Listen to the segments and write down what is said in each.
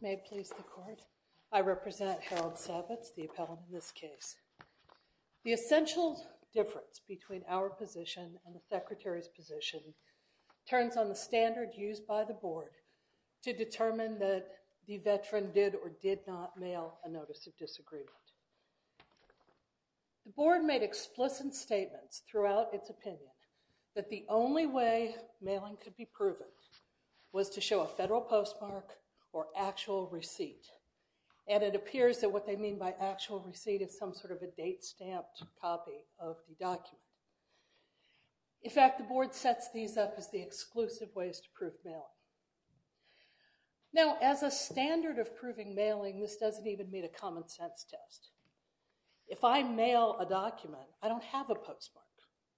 May it please the Court, I represent Harold Savitz, the appellant in this case. The essential difference between our position and the Secretary's position turns on the standard used by the Board to determine that the veteran did or did not mail a Notice of Disagreement. The Board made explicit statements throughout its opinion that the only way mailing could be proven was to show a federal postmark or actual receipt, and it appears that what they mean by actual receipt is some sort of a date-stamped copy of the document. In fact, the Board sets these up as the exclusive ways to prove mailing. Now, as a standard of proving mailing, this doesn't even meet a common-sense test. If I mail a document, I don't have a postmark.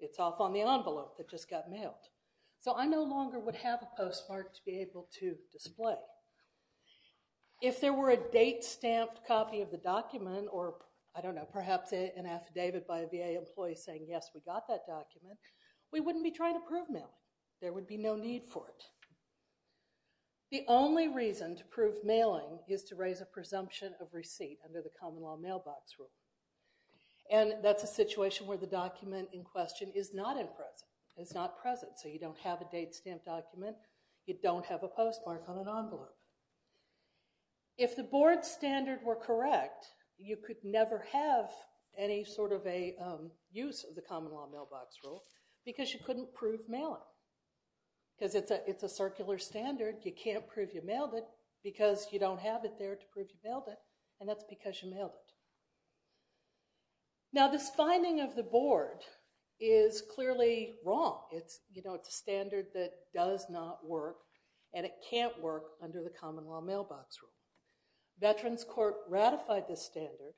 It's off on the envelope that just got mailed, so I no longer would have a postmark to be able to display. If there were a date-stamped copy of the document or, I don't know, perhaps an affidavit by a VA employee saying, yes, we got that document, we wouldn't be trying to prove mailing. There would be no need for it. The only reason to prove mailing is to raise a presumption of receipt under the Common Law You don't have a date-stamped document. You don't have a postmark on an envelope. If the Board's standard were correct, you could never have any sort of a use of the Common Law mailbox rule because you couldn't prove mailing because it's a circular standard. You can't prove you mailed it because you don't have it there to prove you mailed it, and that's because you standard that does not work, and it can't work under the Common Law mailbox rule. Veterans Court ratified this standard,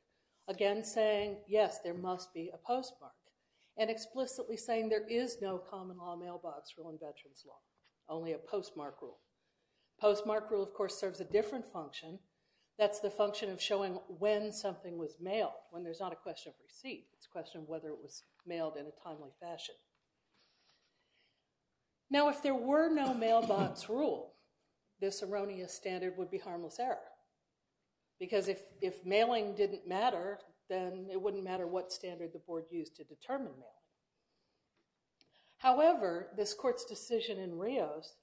again saying, yes, there must be a postmark, and explicitly saying there is no Common Law mailbox rule in Veterans Law, only a postmark rule. Postmark rule, of course, serves a different function. That's the function of showing when something was mailed, when there's not a question of receipt. It's a question of whether it was Now, if there were no mailbox rule, this erroneous standard would be harmless error, because if mailing didn't matter, then it wouldn't matter what standard the Board used to determine mail. However, this Court's decision in Rios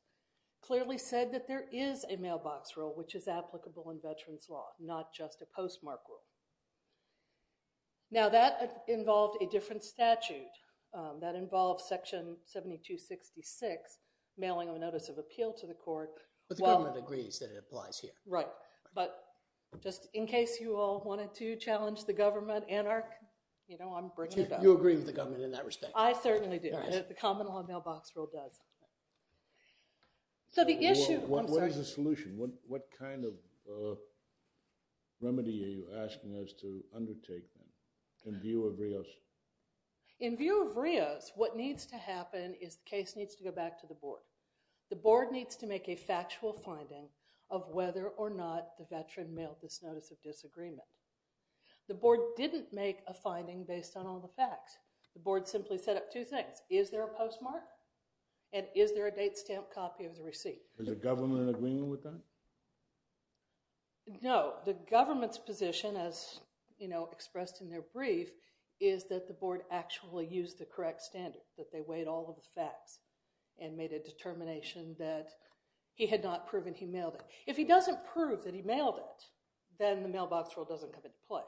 clearly said that there is a mailbox rule which is applicable in Veterans Law, not just a postmark rule. Now, that involved a different statute. That involved Section 7266, mailing a notice of appeal to the Court. But the government agrees that it applies here. Right, but just in case you all wanted to challenge the government, Anarch, you know, I'm bringing it up. You agree with the government in that respect? I certainly do. The Common Law mailbox rule does. So the In view of Rios, what needs to happen is the case needs to go back to the Board. The Board needs to make a factual finding of whether or not the Veteran mailed this notice of disagreement. The Board didn't make a finding based on all the facts. The Board simply set up two things. Is there a postmark? And is there a date stamp copy of the receipt? Is the government in agreement with that? The Board's position, as, you know, expressed in their brief, is that the Board actually used the correct standard, that they weighed all of the facts and made a determination that he had not proven he mailed it. If he doesn't prove that he mailed it, then the mailbox rule doesn't come into play.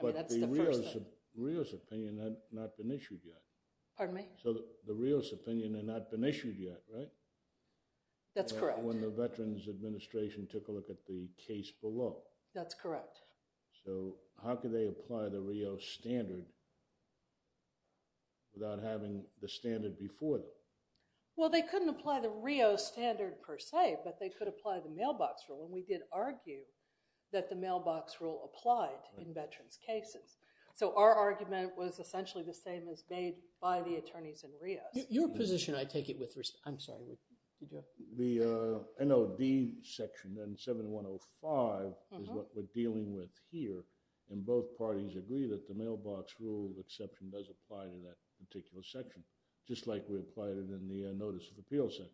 But the Rios opinion had not been issued yet. Pardon me? So the Rios opinion had not been issued yet, right? That's correct. When the Veterans Administration took a look at the case below. That's correct. So how could they apply the Rios standard without having the standard before them? Well, they couldn't apply the Rios standard per se, but they could apply the mailbox rule. And we did argue that the mailbox rule applied in Veterans cases. So our argument was essentially the same as made by the attorneys in Rios. Your position, I take it, with respect, I'm sorry, did you have? The NOD section, then 7105, is what we're dealing with here. And both parties agree that the mailbox rule exception does apply to that particular section, just like we applied it in the Notice of Appeal section.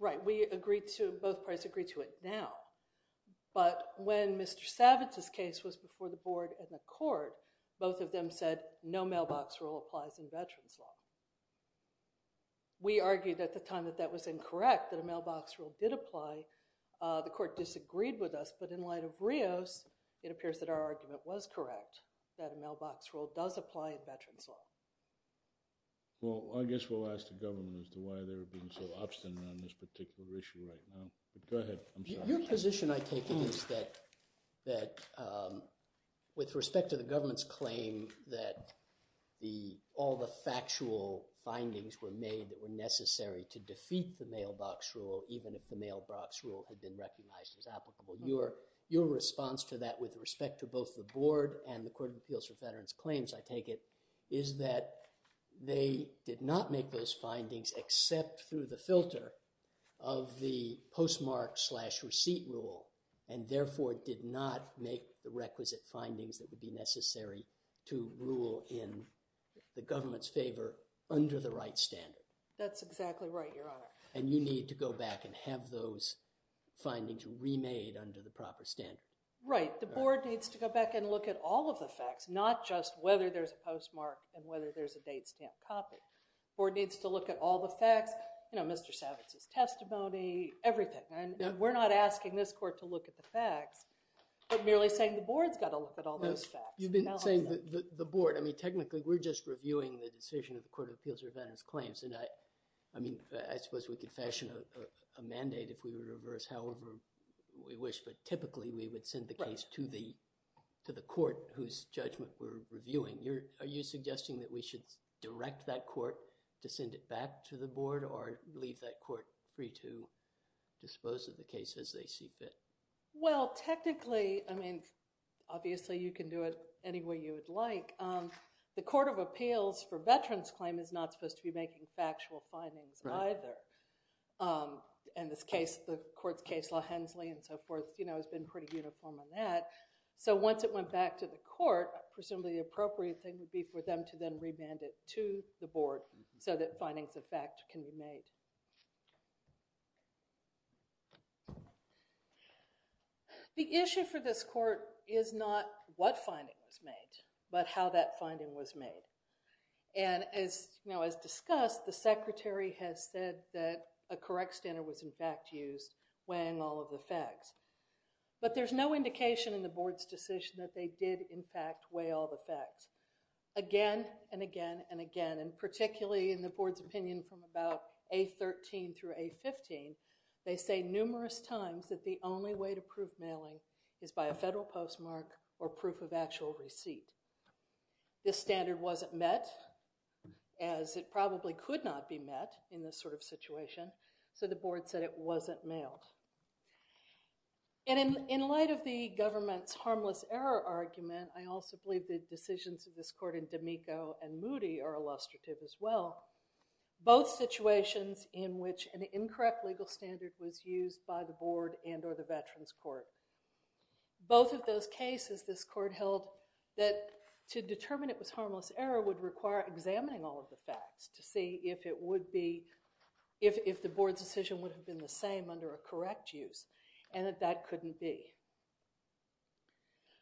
Right, we agreed to, both parties agree to it now. But when Mr. Savitz's case was before the Board and the we argued at the time that that was incorrect, that a mailbox rule did apply, the court disagreed with us. But in light of Rios, it appears that our argument was correct, that a mailbox rule does apply in Veterans law. Well, I guess we'll ask the government as to why they're being so obstinate on this particular issue right now. But go ahead. Your position, I take it, is that with respect to the government's claim that all the factual findings were made that were necessary to defeat the mailbox rule, even if the mailbox rule had been recognized as applicable, your response to that with respect to both the Board and the Court of Appeals for Veterans Claims, I take it, is that they did not make those findings except through the filter of the postmark slash receipt rule, and therefore did not make the requisite findings that would be necessary to rule in the government's favor under the right standard. That's exactly right, Your Honor. And you need to go back and have those findings remade under the proper standard. Right, the Board needs to go back and look at all of the facts, not just whether there's a postmark and whether there's a date stamp copy. The Board needs to look at all the facts, you know, Mr. Savitz's testimony, everything. We're not asking this Court to look at the facts, but merely saying the Board's got to look at all those facts. You've been saying the Board. I mean, technically, we're just reviewing the decision of the Court of Appeals for Veterans Claims. And I mean, I suppose we could fashion a mandate if we were to reverse however we wish. But typically, we would send the case to the Court whose judgment we're reviewing. Are you suggesting that we should direct that Court to send it back to the Board or leave that Court free to dispose of the case as they see fit? Well, technically, I mean, obviously you can do it any way you would like. The Court of Appeals for Veterans Claim is not supposed to be making factual findings either. And this case, the Court's case, La Hensley and so forth, you know, once it went back to the Court, presumably the appropriate thing would be for them to then remand it to the Board so that findings of fact can be made. The issue for this Court is not what finding was made, but how that finding was made. And as, you know, as discussed, the Secretary has said that a correct standard was, in fact, used weighing all of the facts. But there's no indication in the Board's decision that they did, in fact, weigh all the facts. Again and again and again, and particularly in the Board's opinion from about A13 through A15, they say numerous times that the only way to prove mailing is by a federal postmark or proof of actual receipt. This standard wasn't met as it probably could not be met in this sort of situation, so the Board said it wasn't mailed. And in light of the government's harmless error argument, I also believe the decisions of this Court in D'Amico and Moody are illustrative as well. Both situations in which an incorrect legal standard was used by the Board and or the Veterans Court, both of those cases this Court held that to determine it was would be, if the Board's decision would have been the same under a correct use, and that that couldn't be.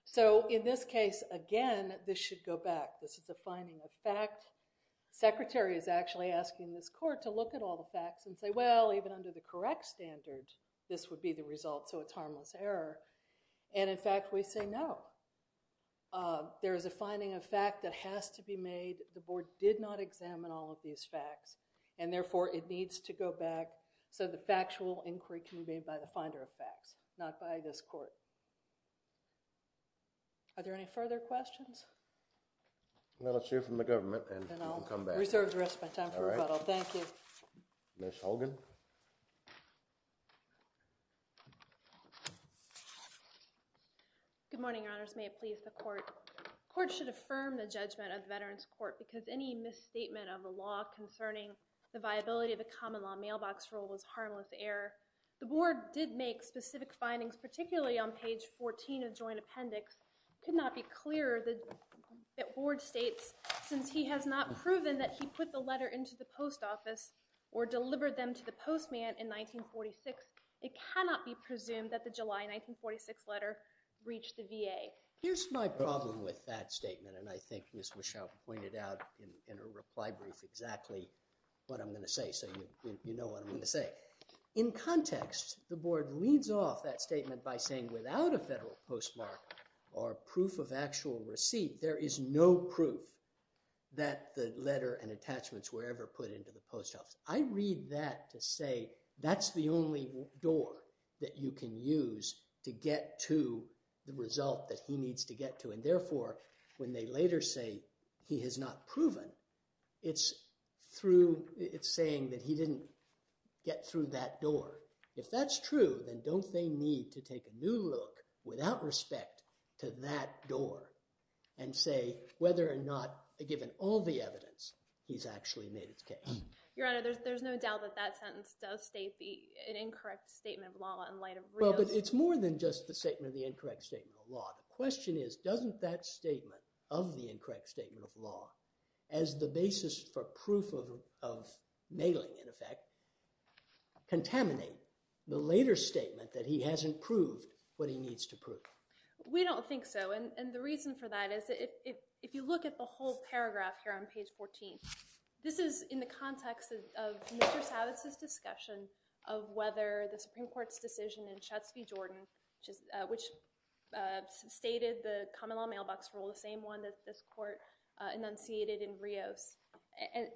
So in this case, again, this should go back. This is a finding of fact. The Secretary is actually asking this Court to look at all the facts and say, well, even under the correct standard, this would be the result, so it's harmless error. And in fact, we say no. There is a finding of fact that has to be made. The Board did not examine all of these facts, and therefore, it needs to go back so the factual inquiry can be made by the finder of facts, not by this Court. Are there any further questions? Well, let's hear from the government and then I'll come back. Reserved the rest of my time for rebuttal. Thank you. Ms. Holgen. Good morning, Your Honors. May it please the Court. The Court should affirm the judgment of the Veterans Court because any misstatement of the law concerning the viability of a common law mailbox rule was harmless error. The Board did make specific findings, particularly on page 14 of joint appendix. It could not be clearer that Board states, since he has not proven that he put the letter into the post office or delivered them to the postman in 1946, it cannot be presumed that the July 1946 letter reached the VA. Here's my problem with that statement, and I think Ms. Wishaw pointed out in her reply brief exactly what I'm going to say, so you know what I'm going to say. In context, the Board leads off that statement by saying, without a federal postmark or proof of actual receipt, there is no proof that the letter and attachments were ever put into the post office. I read that to say that's the only door that you can use to get to the result that he needs to get to, and therefore, when they later say he has not proven, it's through, it's saying that he didn't get through that door. If that's true, then don't they need to take a new look without respect to that door and say whether or not, given all the evidence, this actually made its case? Your Honor, there's no doubt that that sentence does state an incorrect statement of law in light of real... Well, but it's more than just the statement of the incorrect statement of law. The question is, doesn't that statement of the incorrect statement of law as the basis for proof of mailing, in effect, contaminate the later statement that he hasn't proved what he needs to prove? We don't think so, and the reason for that is, if you look at the paragraph here on page 14, this is in the context of Mr. Savitz's discussion of whether the Supreme Court's decision in Schutz v. Jordan, which stated the common law mailbox rule, the same one that this court enunciated in Rios,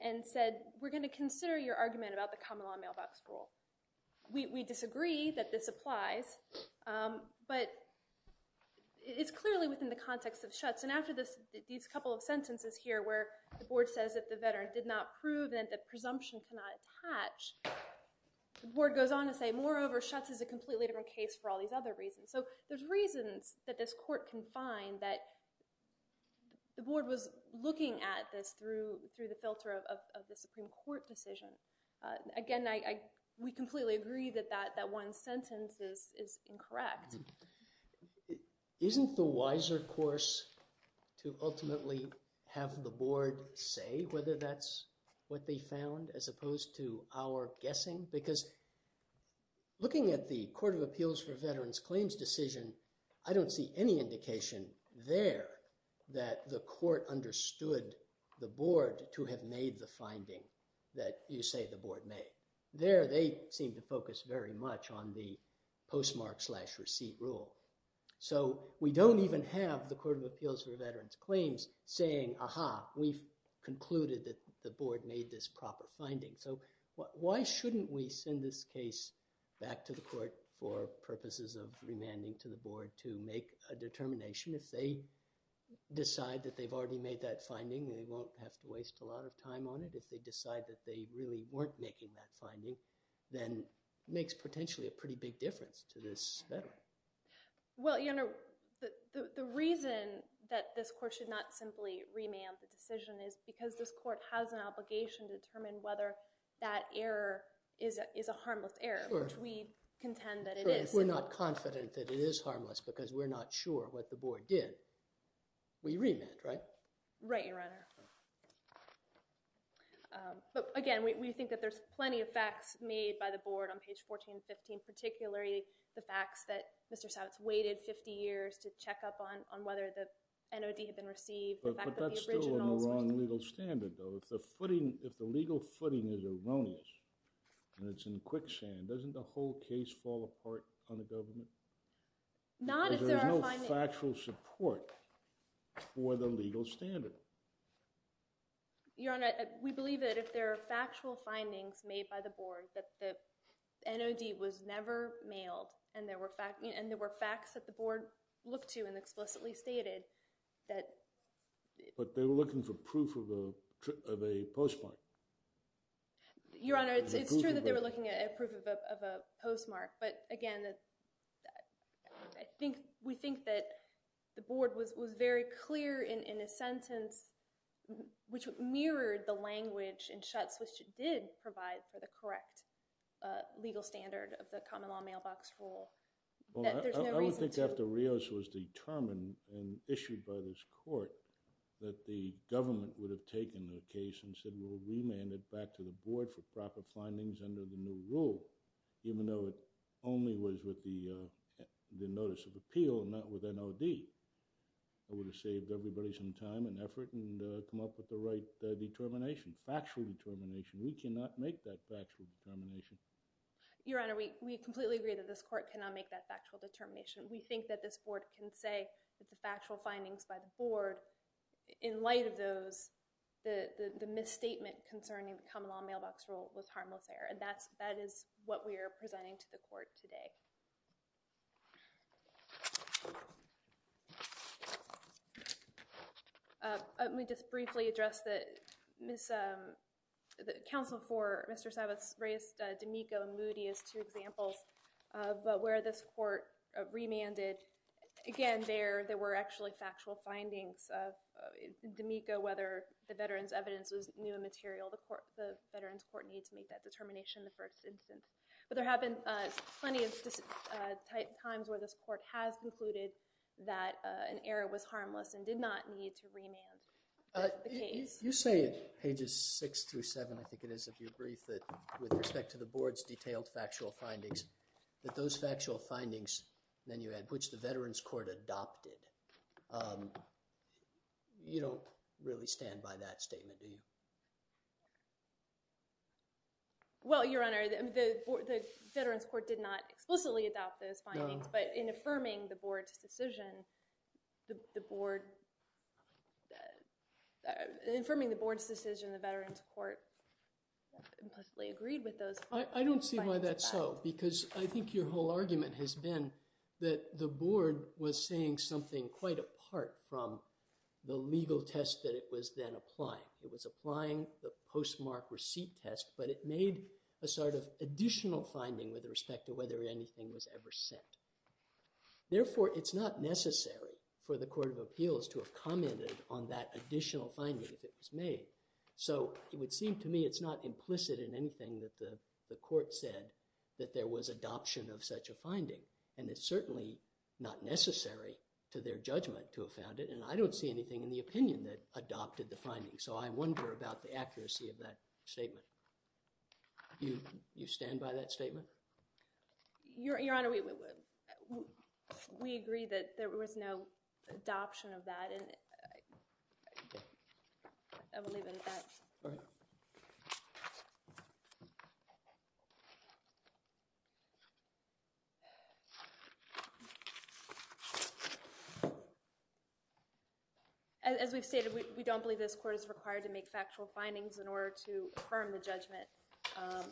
and said, we're going to consider your argument about the common law mailbox rule. We disagree that this applies, but it's clearly within the context of Schutz, and after these couple of sentences here where the board says that the veteran did not prove and that presumption cannot attach, the board goes on to say, moreover, Schutz is a completely different case for all these other reasons. So there's reasons that this court can find that the board was looking at this through the filter of the Supreme Court decision. Again, we completely agree that that one sentence is incorrect. Isn't the wiser course to ultimately have the board say whether that's what they found as opposed to our guessing? Because looking at the Court of Appeals for Veterans Claims decision, I don't see any indication there that the court understood the board to have made the finding that you say the board made. There, they seem to focus very much on the postmark slash receipt rule. So we don't even have the Court of Appeals for Veterans Claims saying, aha, we've concluded that the board made this proper finding. So why shouldn't we send this case back to the court for purposes of remanding to the board to make a determination if they decide that they've already made that finding? They won't have to waste a lot of time on it. If they decide that they really weren't making that finding, then it makes potentially a pretty big difference to this veteran. Well, your Honor, the reason that this court should not simply remand the decision is because this court has an obligation to determine whether that error is a harmless error, which we contend that it is. We're not confident that it is or did. We remanded, right? Right, your Honor. But again, we think that there's plenty of facts made by the board on page 14 and 15, particularly the facts that Mr. Savitz waited 50 years to check up on whether the NOD had been received. But that's still on the wrong legal standard, though. If the legal footing is erroneous and it's in quicksand, doesn't the whole case fall apart on the government? Not if there are findings. There's no factual support for the legal standard. Your Honor, we believe that if there are factual findings made by the board that the NOD was never mailed and there were facts that the board looked to and explicitly stated that... But they were looking for proof of a postmark. Your Honor, it's true that they were looking at proof of a postmark. But again, we think that the board was very clear in a sentence which mirrored the language and shuts which it did provide for the correct legal standard of the common law mailbox rule. I would think after Rios was determined and issued by this court that the government would have taken the case and said we'll remand it back to the board for proper findings under the new rule, even though it only was with the notice of appeal and not with NOD. It would have saved everybody some time and effort and come up with the right determination, factual determination. We cannot make that factual determination. Your Honor, we completely agree that this court cannot make that factual determination. We think that this board can say that the factual findings by the board, in light of those, the misstatement concerning the common law mailbox rule was harmless error. And that is what we are presenting to the court today. Let me just briefly address that the counsel for Mr. Savitz raised D'Amico and Moody as two examples. But where this court remanded, again, there were actually factual findings D'Amico, whether the veterans' evidence was new and material, the veterans' court needs to make that determination in the first instance. But there have been plenty of times where this court has concluded that an error was harmless and did not need to remand the case. You say at pages 6 through 7, I think it is, of your brief, that with respect to the board's detailed factual findings, that those factual findings, then you add, which the veterans' court adopted. You don't really stand by that statement, do you? Well, Your Honor, the veterans' court did not explicitly adopt those findings, but in affirming the board's decision, the board, affirming the board's decision, the veterans' court implicitly agreed with those. I don't see why that's so, because I think your whole argument has been that the board was saying something quite apart from the legal test that it was then applying. It was applying the postmark receipt test, but it made a sort of additional finding with respect to whether anything was ever said. Therefore, it's not necessary for the Court of Appeals to have commented on that additional finding if it was made. So it would seem to me it's not implicit in anything that the court said that there was adoption of such a finding, and it's certainly not necessary to their judgment to have found it, and I don't see anything in the opinion that adopted the finding. So I wonder about the accuracy of that statement. You stand by that statement? Your Honor, we agree that there was no adoption of that. As we've stated, we don't believe this court is required to make factual findings in order to affirm the judgment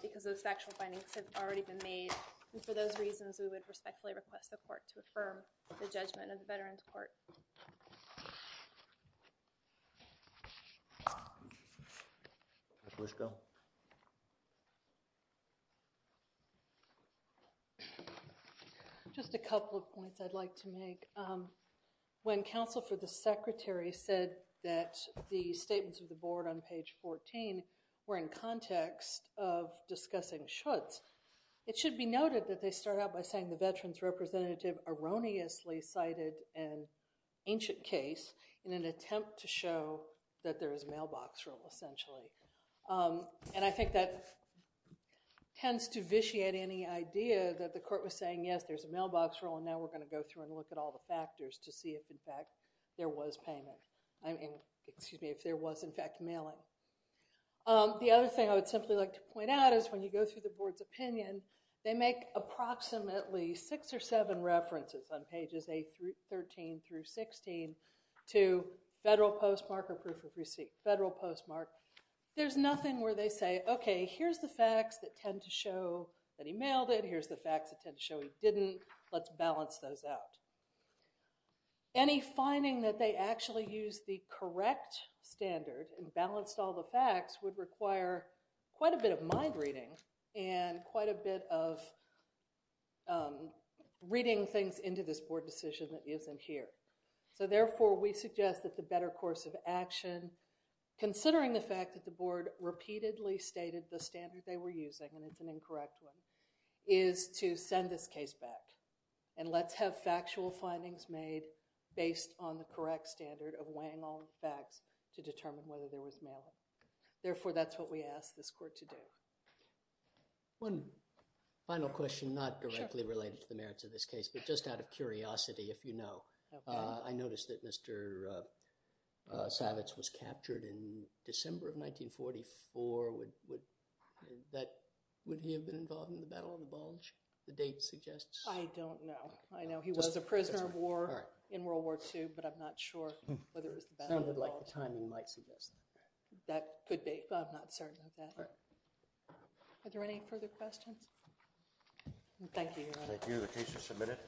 because those factual findings have already been made, and for those reasons, we would respectfully request the court to affirm the judgment of the veterans' court. Ms. Lisko? Just a couple of points I'd like to make. When counsel for the Secretary said that the statements of the board on page 14 were in context of discussing Schutz, it should be noted that they start out by saying the veterans' representative erroneously cited an ancient case in an attempt to show that there is a mailbox rule, essentially. And I think that tends to vitiate any idea that the court was saying, yes, there's a mailbox rule, and now we're going to go through and look at all the factors to see if, in fact, there was payment. I mean, excuse me, if there was, in fact, mailing. The other thing I would simply like to point out is when you go through the board's opinion, they make approximately six or seven references on pages 13 through 16 to federal postmark or proof of receipt, federal postmark. There's nothing where they say, okay, here's the facts that tend to show that he mailed it. Here's the facts that tend to show he didn't. Let's balance those out. Any finding that they actually used the correct standard and balanced all the facts would require quite a bit of mind reading and quite a bit of reading things into this board decision that isn't here. So, therefore, we suggest that the better course of action, considering the fact that the board repeatedly stated the standard they were using, and it's an incorrect one, is to send this case back. And let's have factual to determine whether there was mailing. Therefore, that's what we ask this court to do. One final question, not directly related to the merits of this case, but just out of curiosity, if you know. I noticed that Mr. Savitz was captured in December of 1944. Would he have been involved in the Battle of the Bulge, the date suggests? I don't know. I know he was a prisoner of war in World War II, but I'm not sure whether it was the Battle of the Bulge. Sounded like the timing might suggest that. That could be, but I'm not certain of that. Are there any further questions? Thank you. Thank you. The case is submitted.